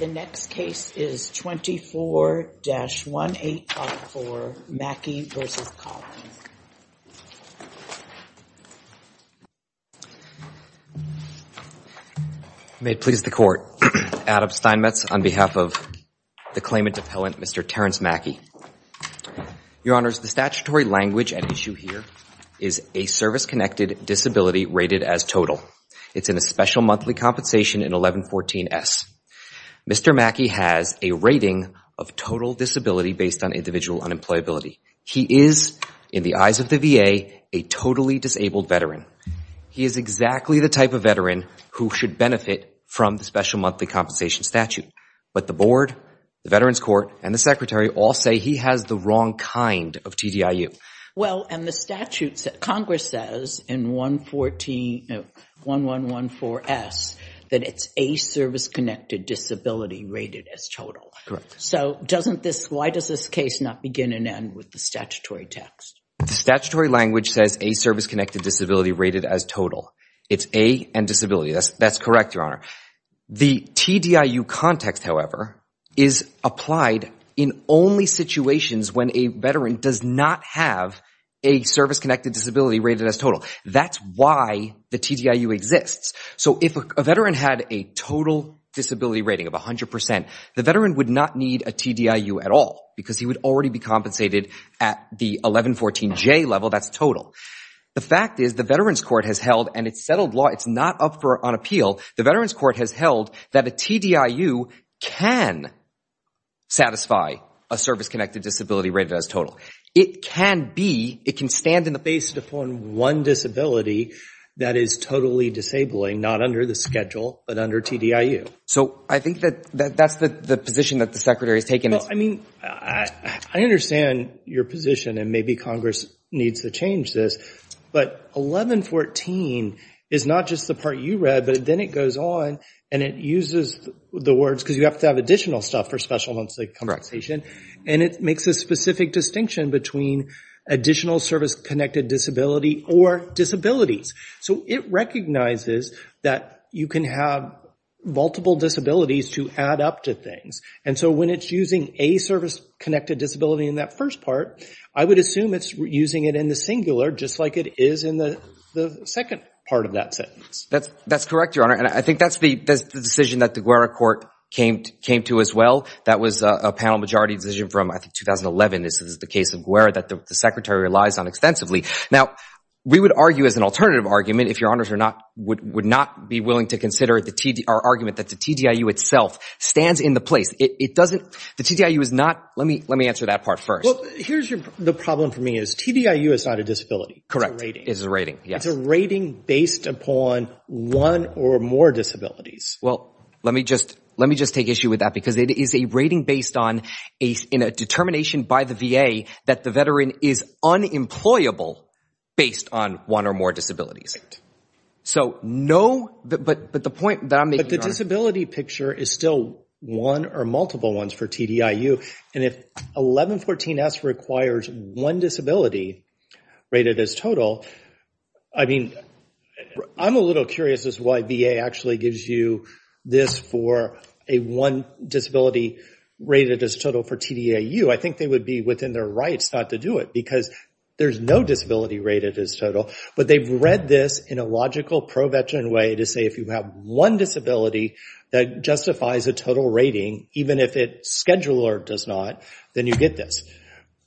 May it please the Court, Adam Steinmetz on behalf of the claimant appellant, Mr. Terrence Mackey. Your Honors, the statutory language at issue here is a service-connected disability rated as total. It's in a special monthly compensation in 1114 S. Mr. Mackey has a rating of total disability based on individual unemployability. He is in the eyes of the VA a totally disabled veteran. He is exactly the type of veteran who should benefit from the special monthly compensation statute. But the Board, the Veterans Court, and the Secretary all say he has the wrong kind of TDIU. Well, and the statute, Congress says in 1114 S that it's a service-connected disability rated as total. Correct. So doesn't this, why does this case not begin and end with the statutory text? The statutory language says a service-connected disability rated as total. It's A and disability. That's correct, Your Honor. The TDIU context, however, is applied in only situations when a veteran does not have a service-connected disability rated as total. That's why the TDIU exists. So if a veteran had a total disability rating of 100 percent, the veteran would not need a TDIU at all because he would already be compensated at the 1114 J level, that's total. The fact is the Veterans Court has held and it's settled law, it's not up for an appeal. The Veterans Court has held that a TDIU can satisfy a service-connected disability rated as total. It can be, it can stand in the face of one disability that is totally disabling, not under the schedule, but under TDIU. So I think that that's the position that the Secretary is taking. I mean, I understand your position and maybe Congress needs to change this, but 1114 is not just the part you read, but then it goes on and it uses the words, because you have to have additional stuff for special events like compensation, and it makes a specific distinction between additional service-connected disability or disabilities. So it recognizes that you can have multiple disabilities to add up to things. And so when it's using a service-connected disability in that first part, I would assume it's using it in the singular, just like it is in the second part of that sentence. That's correct, Your Honor. And I think that's the decision that the Guerra Court came to as well. That was a panel majority decision from, I think, 2011. This is the case of Guerra that the Secretary relies on extensively. Now we would argue as an alternative argument, if Your Honors are not, would not be willing to consider our argument that the TDIU itself stands in the place. It doesn't, the TDIU is not, let me answer that part first. Well, here's your, the problem for me is TDIU is not a disability. Correct. It's a rating. Yes. It's a rating based upon one or more disabilities. Well, let me just, let me just take issue with that because it is a rating based on a, in a determination by the VA that the veteran is unemployable based on one or more disabilities. So no, but, but the point that I'm making. The disability picture is still one or multiple ones for TDIU and if 1114S requires one disability rated as total, I mean, I'm a little curious as to why VA actually gives you this for a one disability rated as total for TDIU. I think they would be within their rights not to do it because there's no disability rated as total, but they've read this in a logical pro-veteran way to say if you have one disability that justifies a total rating, even if it's scheduled or does not, then you get this.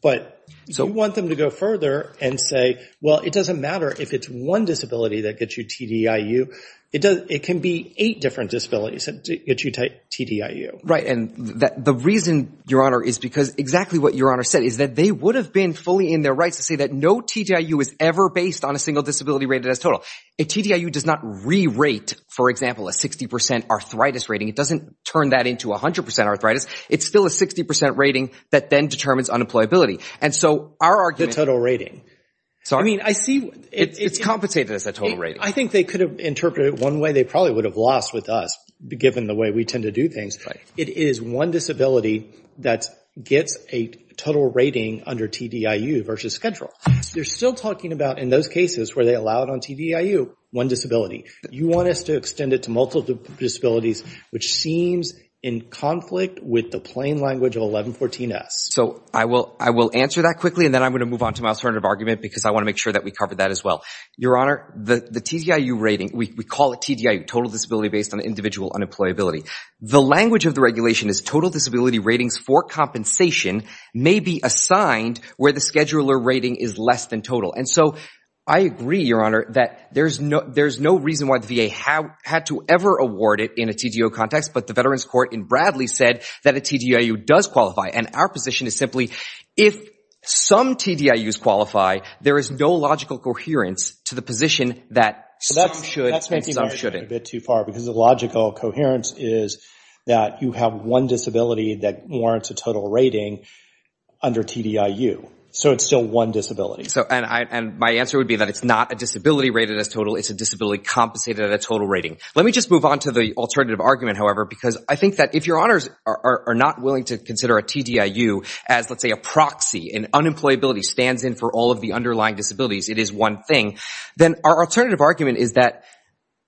But so we want them to go further and say, well, it doesn't matter if it's one disability that gets you TDIU, it does, it can be eight different disabilities that get you TDIU. Right. And the reason, your honor, is because exactly what your honor said is that they would have been fully in their rights to say that no TDIU is ever based on a single disability rated as total. A TDIU does not re-rate, for example, a 60% arthritis rating. It doesn't turn that into 100% arthritis. It's still a 60% rating that then determines unemployability. And so our argument- The total rating. Sorry? I mean, I see- It's compensated as a total rating. I think they could have interpreted it one way. They probably would have lost with us, given the way we tend to do things. It is one disability that gets a total rating under TDIU versus schedule. You're still talking about, in those cases where they allow it on TDIU, one disability. You want us to extend it to multiple disabilities, which seems in conflict with the plain language of 1114S. So I will answer that quickly, and then I'm going to move on to my alternative argument because I want to make sure that we cover that as well. Your honor, the TDIU rating, we call it TDIU, total disability based on individual unemployability. The language of the regulation is total disability ratings for compensation may be assigned where the scheduler rating is less than total. And so I agree, your honor, that there's no reason why the VA had to ever award it in a TDIU context, but the Veterans Court in Bradley said that a TDIU does qualify. And our position is simply, if some TDIUs qualify, there is no logical coherence to the position that some should and some shouldn't. That's taking my argument a bit too far because the logical coherence is that you have one disability that warrants a total rating under TDIU. So it's still one disability. And my answer would be that it's not a disability rated as total, it's a disability compensated at a total rating. Let me just move on to the alternative argument, however, because I think that if your honors are not willing to consider a TDIU as, let's say, a proxy, and unemployability stands in for all of the underlying disabilities, it is one thing, then our alternative argument is that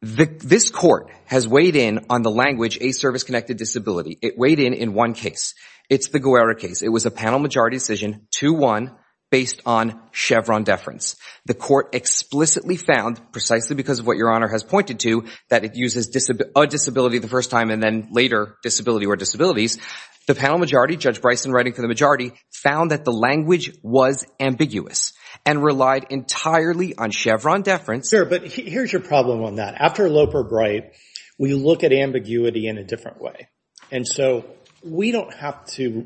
this court has weighed in on the language, a service-connected disability. It weighed in in one case. It's the Guerra case. It was a panel majority decision, 2-1, based on Chevron deference. The court explicitly found, precisely because of what your honor has pointed to, that it uses a disability the first time and then later disability or disabilities. The panel majority, Judge Bryson writing for the majority, found that the language was ambiguous and relied entirely on Chevron deference. Sure, but here's your problem on that. After Loper-Bright, we look at ambiguity in a different way. And so we don't have to,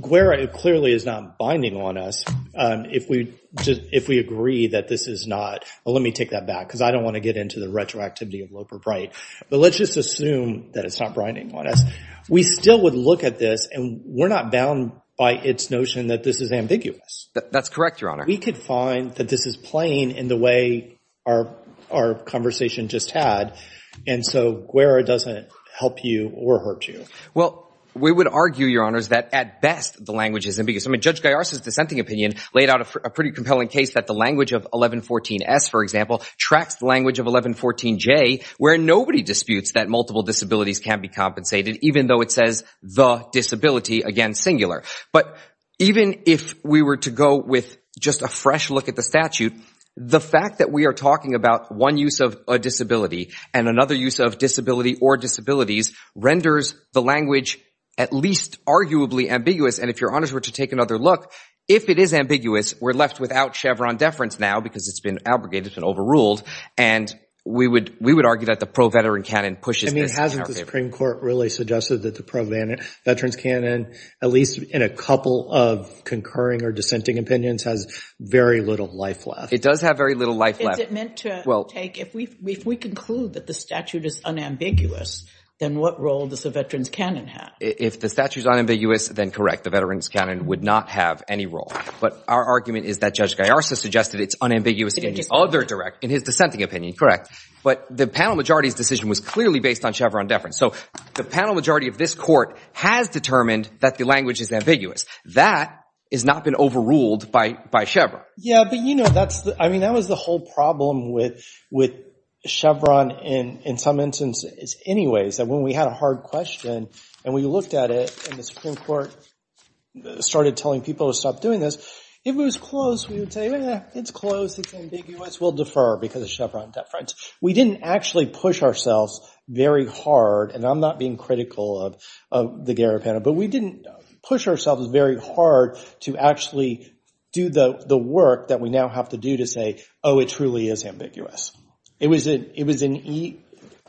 Guerra clearly is not binding on us if we agree that this is not, well, let me take that back, because I don't want to get into the retroactivity of Loper-Bright. But let's just assume that it's not binding on us. We still would look at this, and we're not bound by its notion that this is ambiguous. That's correct, your honor. We could find that this is plain in the way our conversation just had. And so Guerra doesn't help you or hurt you. Well, we would argue, your honors, that at best the language is ambiguous. I mean, Judge Gaiarza's dissenting opinion laid out a pretty compelling case that the language of 1114-S, for example, tracks the language of 1114-J, where nobody disputes that multiple disabilities can be compensated, even though it says the disability against singular. But even if we were to go with just a fresh look at the statute, the fact that we are talking about one use of a disability and another use of disability or disabilities renders the language at least arguably ambiguous. And if your honors were to take another look, if it is ambiguous, we're left without Chevron deference now, because it's been abrogated, it's been overruled. And we would argue that the pro-veteran canon pushes this. But hasn't the Supreme Court really suggested that the pro-veteran canon, at least in a couple of concurring or dissenting opinions, has very little life left? It does have very little life left. Is it meant to take, if we conclude that the statute is unambiguous, then what role does the veteran's canon have? If the statute is unambiguous, then correct, the veteran's canon would not have any role. But our argument is that Judge Gaiarza suggested it's unambiguous in his dissenting opinion. Correct. But the panel majority's decision was clearly based on Chevron deference. So the panel majority of this court has determined that the language is ambiguous. That has not been overruled by Chevron. Yeah, but you know, that's the, I mean, that was the whole problem with Chevron in some instances anyways, that when we had a hard question and we looked at it and the Supreme Court started telling people to stop doing this, if it was close, we would say, eh, it's close, it's ambiguous, we'll defer because of Chevron deference. We didn't actually push ourselves very hard, and I'm not being critical of the Gaiarza panel, but we didn't push ourselves very hard to actually do the work that we now have to do to say, oh, it truly is ambiguous. It was an,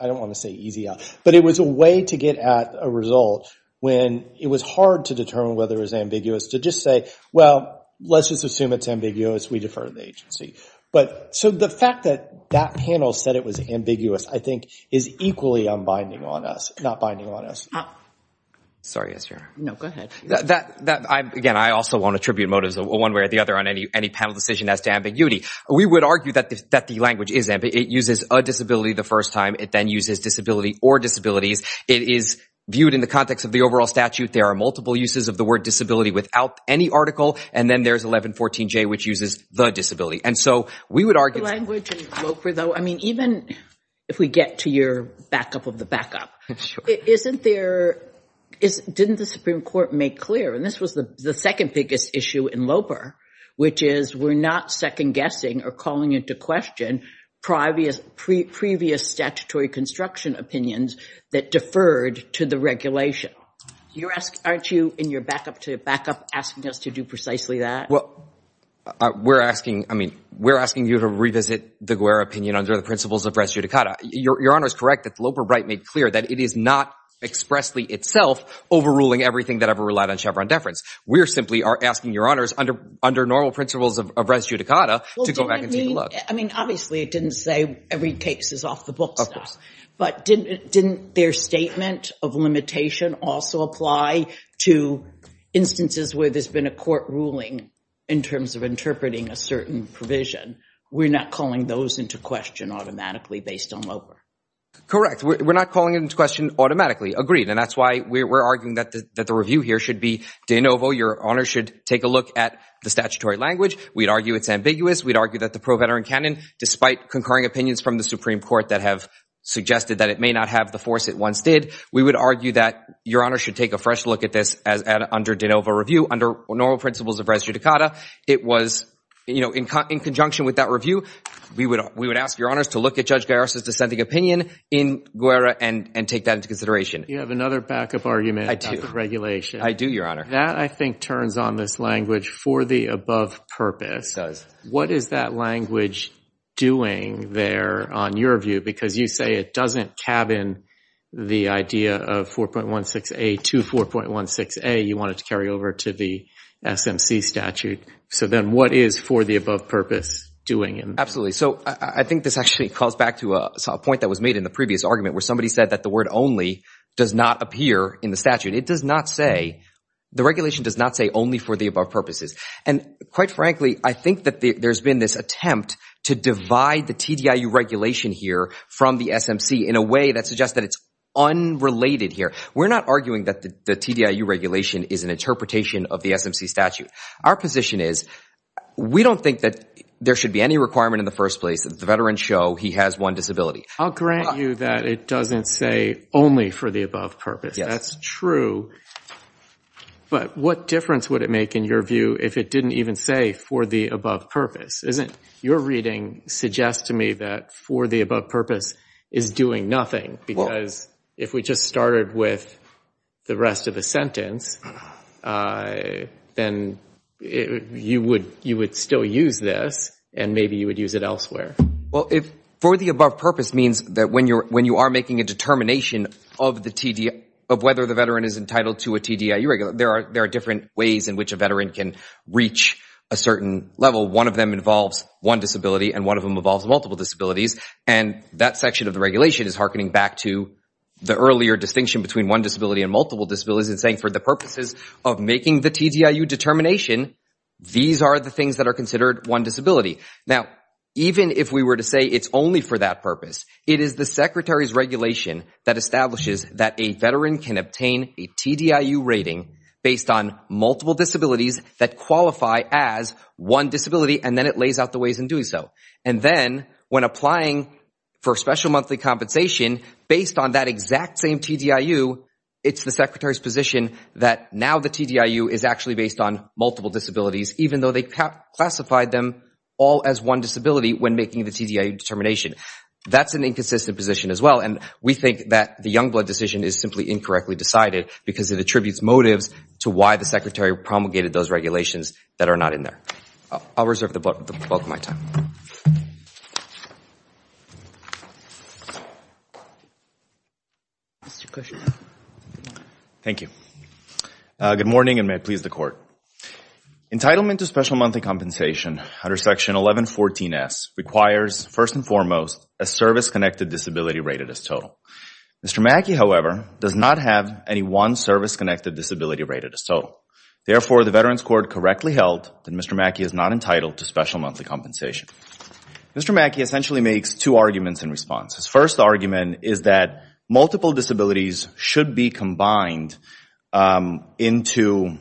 I don't want to say easy, but it was a way to get at a result when it was hard to determine whether it was ambiguous to just say, well, let's just assume it's ambiguous, we defer to the agency. So the fact that that panel said it was ambiguous, I think, is equally unbinding on us, not binding on us. Sorry, yes, your honor. No, go ahead. That, again, I also want to attribute motives one way or the other on any panel decision as to ambiguity. We would argue that the language is, it uses a disability the first time, it then uses disability or disabilities, it is viewed in the context of the overall statute, there are multiple uses of the word disability without any article, and then there's 1114J which uses the disability. And so we would argue- The language in LOPER though, I mean, even if we get to your backup of the backup, isn't there, didn't the Supreme Court make clear, and this was the second biggest issue in LOPER, which is we're not second guessing or calling into question previous statutory construction opinions that deferred to the regulation. Aren't you in your backup to backup asking us to do precisely that? Well, we're asking, I mean, we're asking you to revisit the Guerra opinion under the principles of res judicata. Your honor is correct that the LOPER right made clear that it is not expressly itself overruling everything that ever relied on Chevron deference. We're simply are asking your honors under normal principles of res judicata to go back and take a look. I mean, obviously it didn't say every case is off the books, but didn't their statement of limitation also apply to instances where there's been a court ruling in terms of interpreting a certain provision? We're not calling those into question automatically based on LOPER. Correct. We're not calling it into question automatically. Agreed. And that's why we're arguing that the review here should be de novo. Your honor should take a look at the statutory language. We'd argue it's ambiguous. We'd argue that the pro-veteran canon, despite concurring opinions from the Supreme Court that have suggested that it may not have the force it once did, we would argue that your honor should take a fresh look at this under de novo review, under normal principles of res judicata. It was, you know, in conjunction with that review, we would ask your honors to look at Judge Garris' dissenting opinion in Guerra and take that into consideration. You have another backup argument about the regulation. I do, your honor. That I think turns on this language for the above purpose. What is that language doing there on your view? Because you say it doesn't cabin the idea of 4.16a to 4.16a. You want it to carry over to the SMC statute. So then what is for the above purpose doing it? Absolutely. So I think this actually calls back to a point that was made in the previous argument where somebody said that the word only does not appear in the statute. It does not say, the regulation does not say only for the above purposes. And quite frankly, I think that there's been this attempt to divide the TDIU regulation here from the SMC in a way that suggests that it's unrelated here. We're not arguing that the TDIU regulation is an interpretation of the SMC statute. Our position is, we don't think that there should be any requirement in the first place that the veteran show he has one disability. I'll grant you that it doesn't say only for the above purpose. That's true. But what difference would it make, in your view, if it didn't even say for the above purpose? Isn't your reading suggests to me that for the above purpose is doing nothing because if we just started with the rest of the sentence, then you would still use this and maybe you would use it elsewhere. Well, if for the above purpose means that when you are making a determination of the whether the veteran is entitled to a TDIU, there are different ways in which a veteran can reach a certain level. One of them involves one disability and one of them involves multiple disabilities. And that section of the regulation is hearkening back to the earlier distinction between one disability and multiple disabilities and saying for the purposes of making the TDIU determination, these are the things that are considered one disability. Now, even if we were to say it's only for that purpose, it is the Secretary's regulation that establishes that a veteran can obtain a TDIU rating based on multiple disabilities that qualify as one disability and then it lays out the ways in doing so. And then when applying for special monthly compensation based on that exact same TDIU, it's the Secretary's position that now the TDIU is actually based on multiple disabilities even though they classified them all as one disability when making the TDIU determination. That's an inconsistent position as well and we think that the Youngblood decision is simply incorrectly decided because it attributes motives to why the Secretary promulgated those regulations that are not in there. I'll reserve the bulk of my time. Thank you. Good morning and may it please the Court. Entitlement to special monthly compensation under Section 1114S requires, first and foremost, a service-connected disability rated as total. Mr. Mackey, however, does not have any one service-connected disability rated as total. Therefore, the Veterans Court correctly held that Mr. Mackey is not entitled to special monthly compensation. Mr. Mackey essentially makes two arguments in response. His first argument is that multiple disabilities should be combined into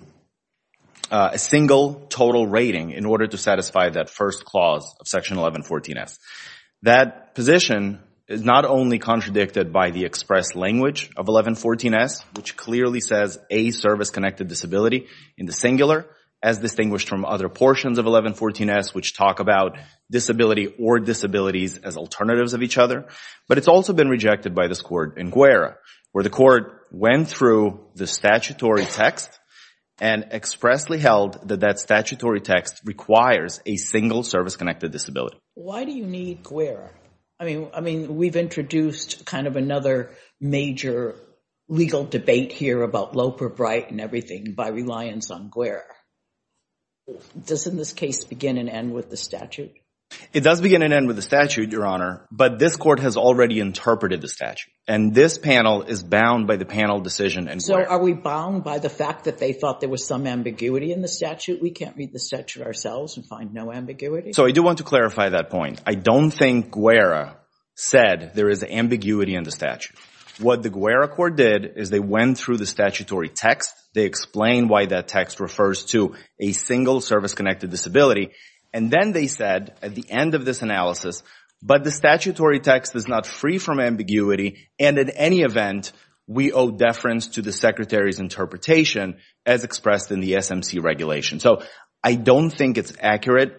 a single total rating in order to satisfy that first clause of Section 1114S. That position is not only contradicted by the express language of 1114S, which clearly says a service-connected disability in the singular, as distinguished from other portions of 1114S which talk about disability or disabilities as alternatives of each other, but it's also been rejected by this Court in Guerra, where the Court went through the statutory text and expressly held that that statutory text requires a single service-connected disability. Why do you need Guerra? I mean, we've introduced kind of another major legal debate here about Loper Bright and everything by reliance on Guerra. Does, in this case, begin and end with the statute? It does begin and end with the statute, Your Honor, but this Court has already interpreted the statute. And this panel is bound by the panel decision in Guerra. So are we bound by the fact that they thought there was some ambiguity in the statute? We can't read the statute ourselves and find no ambiguity? So I do want to clarify that point. I don't think Guerra said there is ambiguity in the statute. What the Guerra Court did is they went through the statutory text. They explained why that text refers to a single service-connected disability. And then they said at the end of this analysis, but the statutory text is not free from ambiguity and in any event, we owe deference to the Secretary's interpretation as expressed in the SMC regulation. So I don't think it's accurate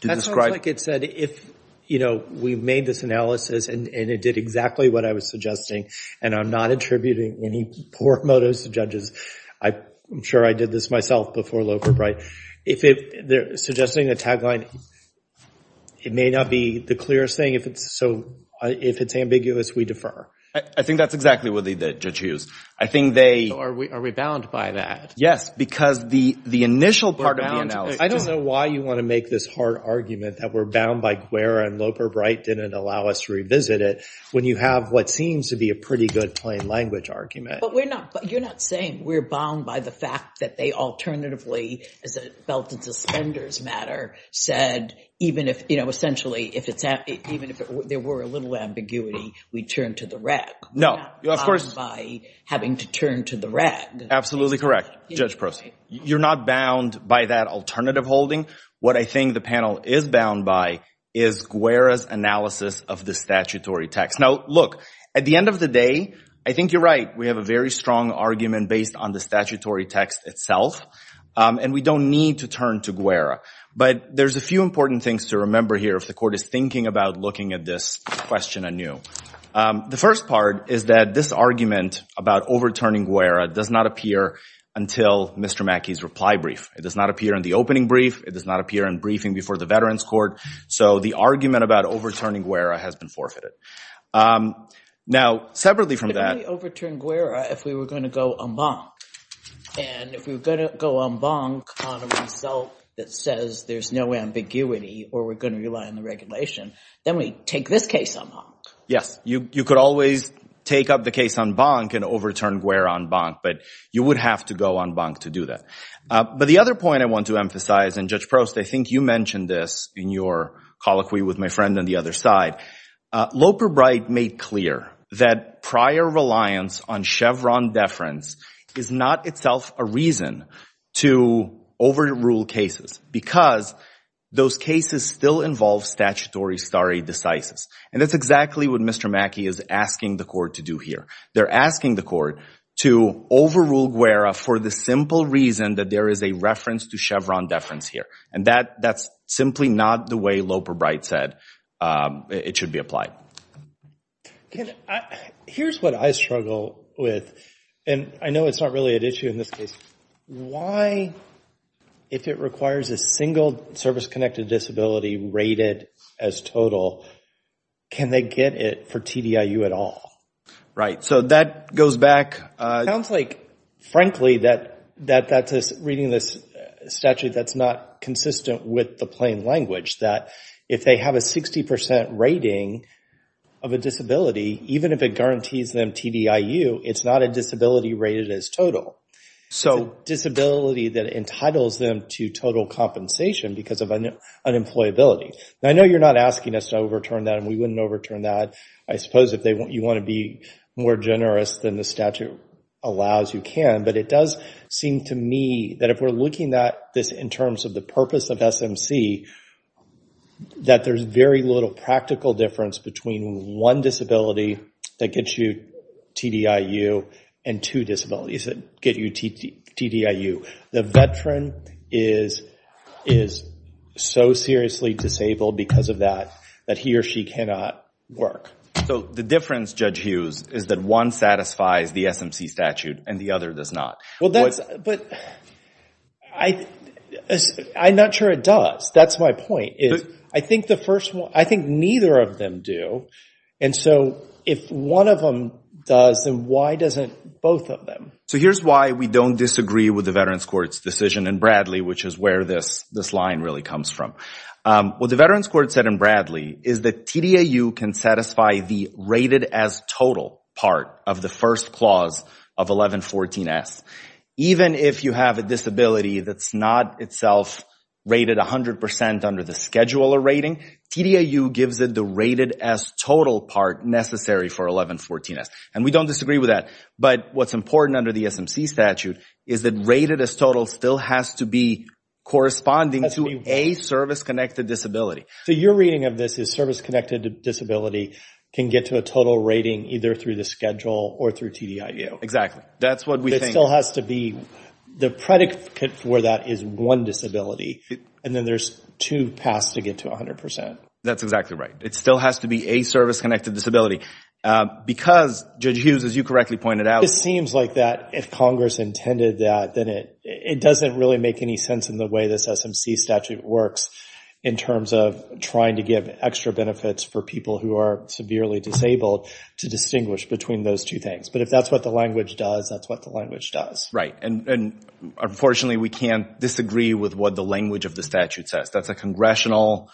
to describe. That sounds like it said if, you know, we made this analysis and it did exactly what I was suggesting, and I'm not attributing any core motives to judges, I'm sure I did this myself before Loper-Bright, if they're suggesting a tagline, it may not be the clearest thing. So if it's ambiguous, we defer. I think that's exactly what the judge used. I think they— Are we bound by that? Yes, because the initial part of the analysis— I don't know why you want to make this hard argument that we're bound by Guerra and Loper-Bright didn't allow us to revisit it when you have what seems to be a pretty good plain language argument. But we're not—you're not saying we're bound by the fact that they alternatively, as a belt and suspenders matter, said even if, you know, essentially, if it's—even if there were a little ambiguity, we turn to the reg. No. Of course— We're not bound by having to turn to the reg. Absolutely correct. Judge Prost, you're not bound by that alternative holding. What I think the panel is bound by is Guerra's analysis of the statutory text. Now look, at the end of the day, I think you're right. We have a very strong argument based on the statutory text itself, and we don't need to turn to Guerra. But there's a few important things to remember here if the court is thinking about looking at this question anew. The first part is that this argument about overturning Guerra does not appear until Mr. Mackey's reply brief. It does not appear in the opening brief. It does not appear in briefing before the Veterans Court. So the argument about overturning Guerra has been forfeited. Now separately from that— We could only overturn Guerra if we were going to go en banc. And if we were going to go en banc on a result that says there's no ambiguity or we're going to rely on the regulation, then we take this case en banc. Yes. You could always take up the case en banc and overturn Guerra en banc, but you would have to go en banc to do that. But the other point I want to emphasize—and Judge Prost, I think you mentioned this in your colloquy with my friend on the other side—Loper Bright made clear that prior reliance on Chevron deference is not itself a reason to overrule cases because those cases still involve statutory stare decisis. And that's exactly what Mr. Mackey is asking the court to do here. They're asking the court to overrule Guerra for the simple reason that there is a reference to Chevron deference here. And that's simply not the way Loper Bright said it should be applied. Here's what I struggle with, and I know it's not really an issue in this case. Why, if it requires a single service-connected disability rated as total, can they get it for TDIU at all? Right. So that goes back— It sounds like, frankly, that that's reading this statute that's not consistent with the plain language, that if they have a 60 percent rating of a disability, even if it guarantees them TDIU, it's not a disability rated as total. It's a disability that entitles them to total compensation because of unemployability. Now, I know you're not asking us to overturn that, and we wouldn't overturn that. I suppose if you want to be more generous than the statute allows, you can. But it does seem to me that if we're looking at this in terms of the purpose of SMC, that there's very little practical difference between one disability that gets you TDIU and two disabilities that get you TDIU. The veteran is so seriously disabled because of that, that he or she cannot work. So the difference, Judge Hughes, is that one satisfies the SMC statute and the other does not. Well, that's—but I'm not sure it does. That's my point. I think the first one—I think neither of them do. And so if one of them does, then why doesn't both of them? So here's why we don't disagree with the Veterans Court's decision in Bradley, which is where this line really comes from. What the Veterans Court said in Bradley is that TDIU can satisfy the rated as total part of the first clause of 1114S. Even if you have a disability that's not itself rated 100% under the scheduler rating, TDIU gives it the rated as total part necessary for 1114S. And we don't disagree with that. But what's important under the SMC statute is that rated as total still has to be corresponding to a service-connected disability. So your reading of this is service-connected disability can get to a total rating either through the schedule or through TDIU. Exactly. That's what we think. It still has to be—the predicate for that is one disability. And then there's two passed to get to 100%. That's exactly right. It still has to be a service-connected disability. Because, Judge Hughes, as you correctly pointed out— It seems like that if Congress intended that, then it doesn't really make any sense in the way this SMC statute works in terms of trying to give extra benefits for people who are severely disabled to distinguish between those two things. But if that's what the language does, that's what the language does. Right. And unfortunately, we can't disagree with what the language of the statute says. That's a congressional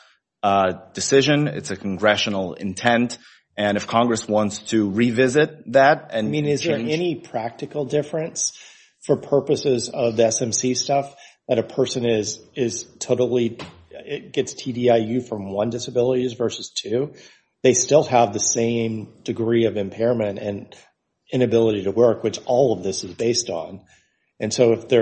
decision. It's a congressional intent. And if Congress wants to revisit that and change— I mean, is there any practical difference for purposes of the SMC stuff that a person is totally—gets TDIU from one disability versus two? They still have the same degree of impairment and inability to work, which all of this is based on. And so if they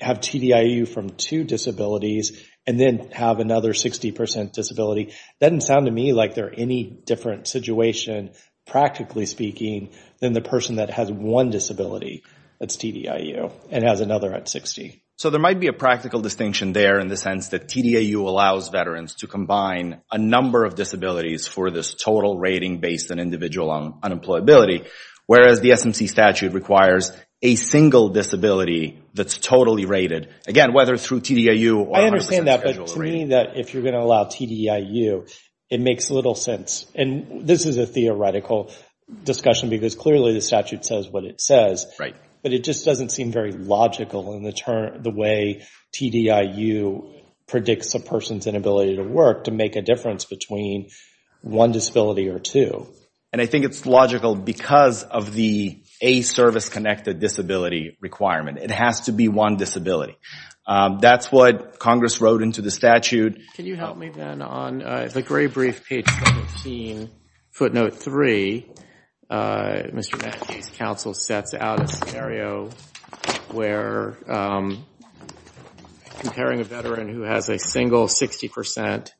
have TDIU from two disabilities and then have another 60% disability, it doesn't sound to me like they're any different situation, practically speaking, than the person that has one disability that's TDIU and has another at 60. So there might be a practical distinction there in the sense that TDIU allows veterans to combine a number of disabilities for this total rating based on individual unemployability, whereas the SMC statute requires a single disability that's totally rated, again, whether through TDIU or 100% schedule rating. But to me, if you're going to allow TDIU, it makes little sense. And this is a theoretical discussion because clearly the statute says what it says. But it just doesn't seem very logical in the way TDIU predicts a person's inability to work to make a difference between one disability or two. And I think it's logical because of the a service-connected disability requirement. It has to be one disability. That's what Congress wrote into the statute. Can you help me then on the gray brief, page 17, footnote 3, Mr. Mackey's counsel sets out a scenario where comparing a veteran who has a single 60%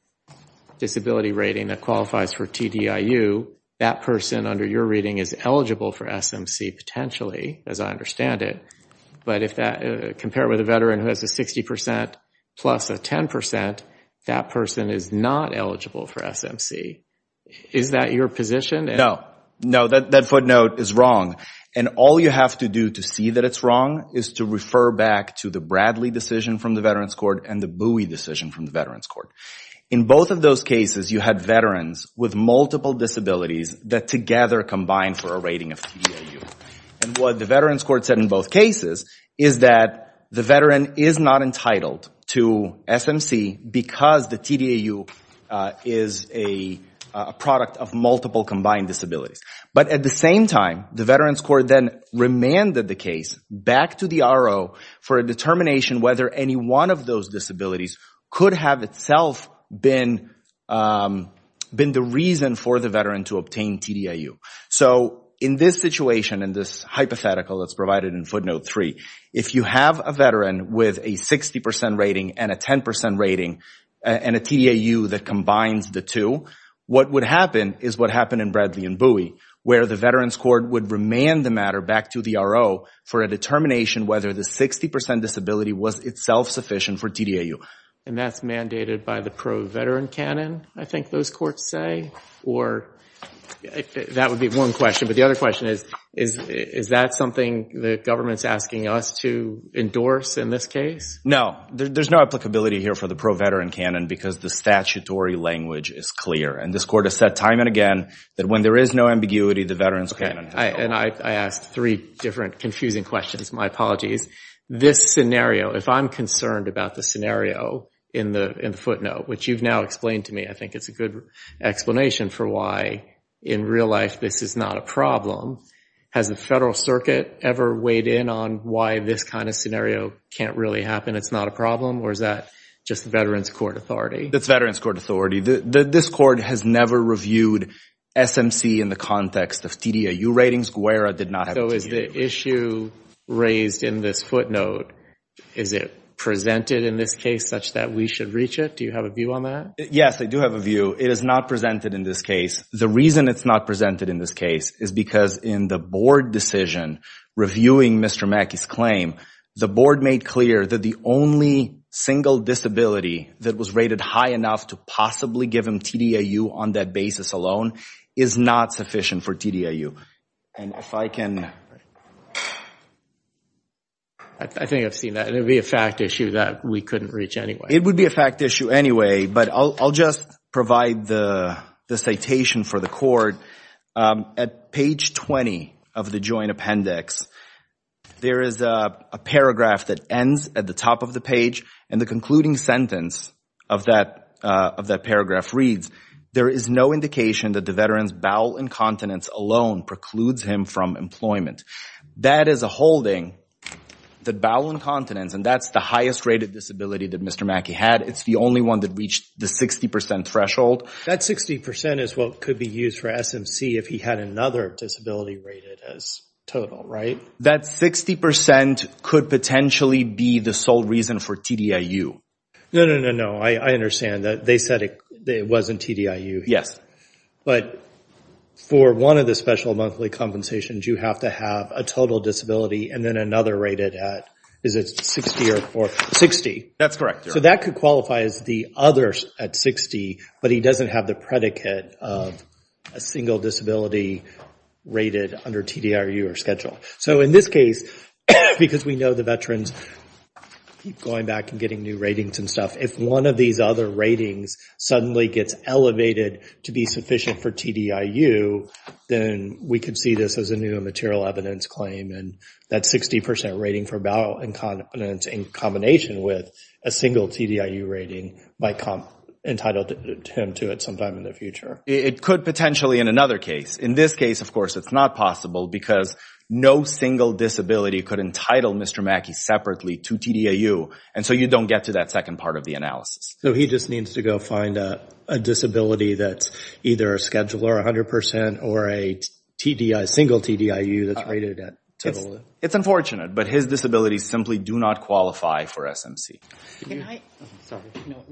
disability rating that qualifies for TDIU, that person under your reading is eligible for SMC potentially, as I understand it. But if that compared with a veteran who has a 60% plus a 10%, that person is not eligible for SMC. Is that your position? No. No, that footnote is wrong. And all you have to do to see that it's wrong is to refer back to the Bradley decision from the Veterans Court and the Bowie decision from the Veterans Court. In both of those cases, you had veterans with multiple disabilities that together combined for a rating of TDIU. And what the Veterans Court said in both cases is that the veteran is not entitled to SMC because the TDIU is a product of multiple combined disabilities. But at the same time, the Veterans Court then remanded the case back to the RO for a determination whether any one of those disabilities could have itself been the reason for the veteran to obtain TDIU. So in this situation, in this hypothetical that's provided in footnote 3, if you have a veteran with a 60% rating and a 10% rating and a TDIU that combines the two, what would happen is what happened in Bradley and Bowie, where the Veterans Court would remand the matter back to the RO for a determination whether the 60% disability was itself sufficient for TDIU. And that's mandated by the pro-veteran canon, I think those courts say? Or that would be one question, but the other question is, is that something the government's asking us to endorse in this case? No. There's no applicability here for the pro-veteran canon because the statutory language is clear. And this court has said time and again that when there is no ambiguity, the veterans canon does not. And I asked three different confusing questions. My apologies. This scenario, if I'm concerned about the scenario in the footnote, which you've now explained to me, I think it's a good explanation for why in real life this is not a problem. Has the federal circuit ever weighed in on why this kind of scenario can't really happen? It's not a problem? Or is that just the Veterans Court authority? It's Veterans Court authority. This court has never reviewed SMC in the context of TDIU ratings. So is the issue raised in this footnote, is it presented in this case such that we should reach it? Do you have a view on that? Yes, I do have a view. It is not presented in this case. The reason it's not presented in this case is because in the board decision reviewing Mr. Mackey's claim, the board made clear that the only single disability that was rated high enough to possibly give him TDIU on that basis alone is not sufficient for TDIU. And if I can... I think I've seen that. It would be a fact issue that we couldn't reach anyway. It would be a fact issue anyway, but I'll just provide the citation for the court. At page 20 of the joint appendix, there is a paragraph that ends at the top of the page and the concluding sentence of that paragraph reads, there is no indication that the veteran's bowel incontinence alone precludes him from employment. That is a holding that bowel incontinence, and that's the highest rated disability that Mr. Mackey had. It's the only one that reached the 60% threshold. That 60% is what could be used for SMC if he had another disability rated as total, right? That 60% could potentially be the sole reason for TDIU. No, no, no, no. I understand that they said it wasn't TDIU. But for one of the special monthly compensations, you have to have a total disability and then another rated at, is it 60 or 4? 60. That's correct. So that could qualify as the other at 60, but he doesn't have the predicate of a single disability rated under TDIU or schedule. So in this case, because we know the veterans keep going back and getting new ratings and if one of these other ratings suddenly gets elevated to be sufficient for TDIU, then we could see this as a new material evidence claim and that 60% rating for bowel incontinence in combination with a single TDIU rating might entitle him to it sometime in the future. It could potentially in another case. In this case, of course, it's not possible because no single disability could entitle Mr. Mackey separately to TDIU. And so you don't get to that second part of the analysis. So he just needs to go find a disability that's either a schedule or 100% or a single TDIU that's rated at total. It's unfortunate, but his disabilities simply do not qualify for SMC.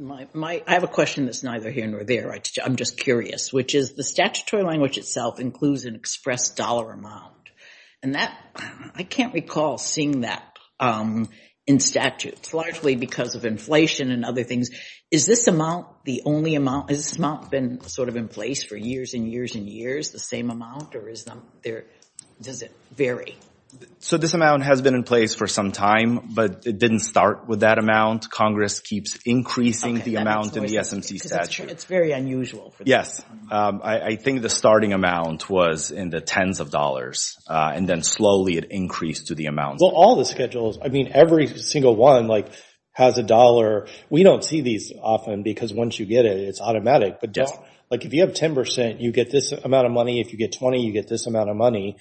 I have a question that's neither here nor there. I'm just curious, which is the statutory language itself includes an express dollar amount. And I can't recall seeing that in statutes, largely because of inflation and other things. Is this amount the only amount? Has this amount been sort of in place for years and years and years, the same amount, or does it vary? So this amount has been in place for some time, but it didn't start with that amount. Congress keeps increasing the amount in the SMC statute. It's very unusual. Yes, I think the starting amount was in the tens of dollars, and then slowly it increased to the amount. Well, all the schedules, I mean, every single one has a dollar. We don't see these often because once you get it, it's automatic. But if you have 10%, you get this amount of money. If you get 20, you get this amount of money,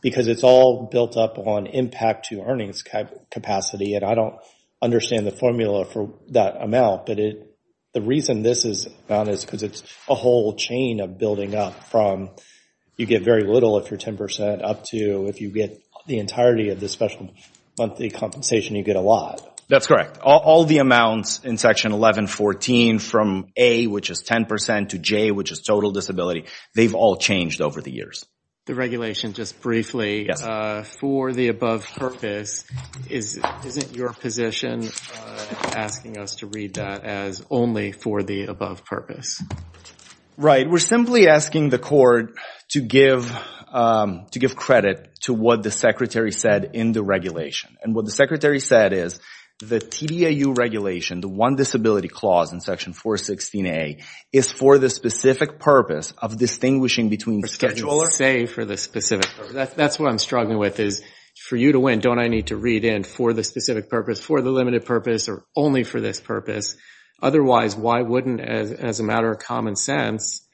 because it's all built up on impact to earnings capacity. And I don't understand the formula for that amount. The reason this is gone is because it's a whole chain of building up from you get very little if you're 10%, up to if you get the entirety of the special monthly compensation, you get a lot. That's correct. All the amounts in Section 1114 from A, which is 10%, to J, which is total disability, they've all changed over the years. The regulation, just briefly, for the above purpose, is it your position asking us to read that as only for the above purpose? Right. We're simply asking the court to give credit to what the Secretary said in the regulation. And what the Secretary said is the TDAU regulation, the one disability clause in Section 416A, is for the specific purpose of distinguishing between schedulers- For schedulers? Save for the specific purpose. That's what I'm struggling with, is for you to win, don't I need to read in for the specific purpose, for the limited purpose, or only for this purpose? Otherwise, why wouldn't, as a matter of common sense,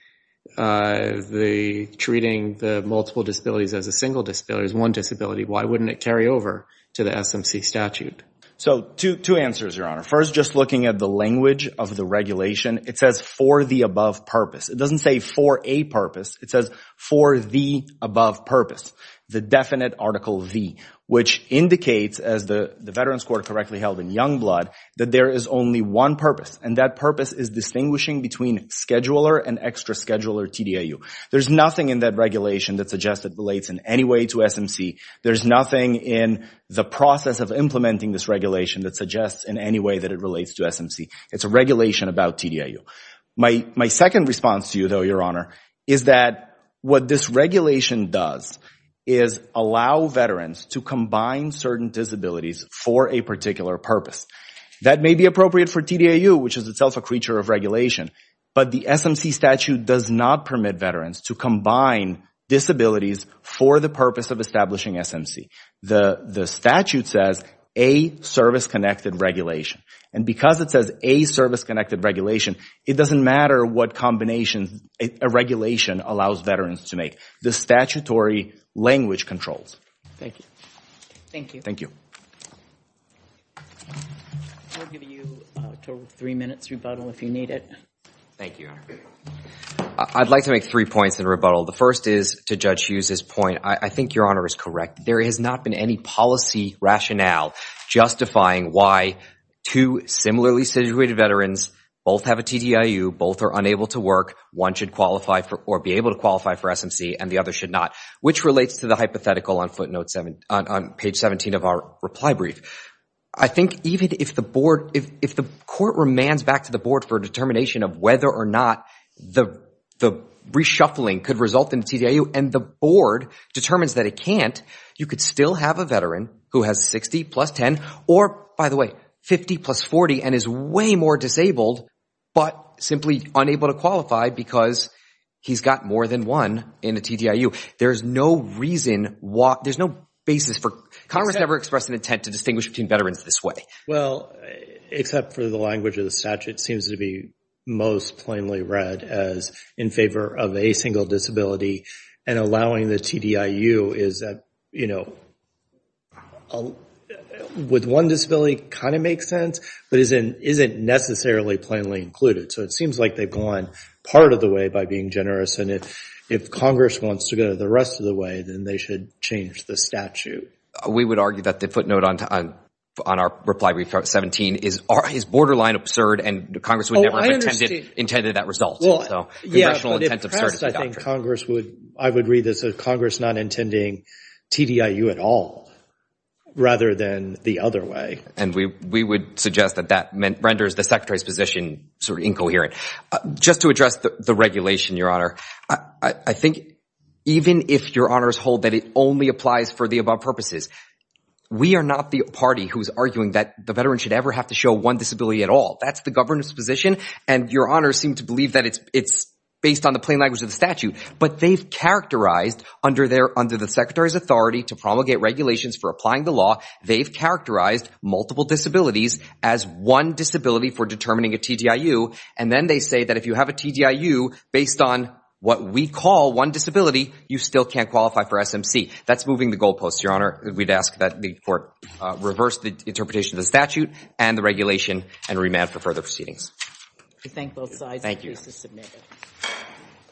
treating the multiple disabilities as a single disability, as one disability, why wouldn't it carry over to the SMC statute? So two answers, Your Honor. First, just looking at the language of the regulation, it says for the above purpose. It doesn't say for a purpose. It says for the above purpose. The definite Article V, which indicates, as the Veterans Court correctly held in Youngblood, that there is only one purpose, and that purpose is distinguishing between scheduler and extra scheduler TDAU. There's nothing in that regulation that suggests it relates in any way to SMC. There's nothing in the process of implementing this regulation that suggests in any way that it relates to SMC. It's a regulation about TDAU. My second response to you, though, Your Honor, is that what this regulation does is allow Veterans to combine certain disabilities for a particular purpose. That may be appropriate for TDAU, which is itself a creature of regulation, but the SMC statute does not permit Veterans to combine disabilities for the purpose of establishing SMC. The statute says a service-connected regulation, and because it says a service-connected regulation, it doesn't matter what combination a regulation allows Veterans to make. The statutory language controls. Thank you. Thank you. Thank you. I'll give you a total of three minutes rebuttal if you need it. Thank you, Your Honor. I'd like to make three points in rebuttal. The first is, to Judge Hughes' point, I think Your Honor is correct. There has not been any policy rationale justifying why two similarly situated Veterans, both have a TDAU, both are unable to work, one should qualify or be able to qualify for SMC, and the other should not, which relates to the hypothetical on page 17 of our reply brief. I think even if the Court remands back to the Board for a determination of whether or not the reshuffling could result in a TDAU, and the Board determines that it can't, you could still have a Veteran who has 60 plus 10, or, by the way, 50 plus 40, and is way more disabled, but simply unable to qualify because he's got more than one in a TDAU. There's no reason why, there's no basis for, Congress never expressed an intent to distinguish between Veterans this way. Well, except for the language of the statute, it seems to be most plainly read as in favor of a single disability, and allowing the TDAU is, you know, with one disability kind of makes sense, but isn't necessarily plainly included. So it seems like they've gone part of the way by being generous, and if Congress wants to go the rest of the way, then they should change the statute. We would argue that the footnote on our reply, 17, is borderline absurd, and Congress would never have intended that result. Well, yeah, but in press, I think Congress would, I would read this as Congress not intending TDIU at all, rather than the other way. And we would suggest that that renders the Secretary's position sort of incoherent. Just to address the regulation, Your Honor, I think even if Your Honors hold that it only applies for the above purposes, we are not the party who's arguing that the Veterans should ever have to show one disability at all. That's the Governor's position, and Your Honors seem to believe that it's based on the plain language of the statute. But they've characterized under the Secretary's authority to promulgate regulations for applying the law, they've characterized multiple disabilities as one disability for determining a TDIU, and then they say that if you have a TDIU based on what we call one disability, you still can't qualify for SMC. That's moving the goalposts, Your Honor. We'd ask that the Court reverse the interpretation of the statute and the regulation and remand for further proceedings. We thank both sides. Thank you.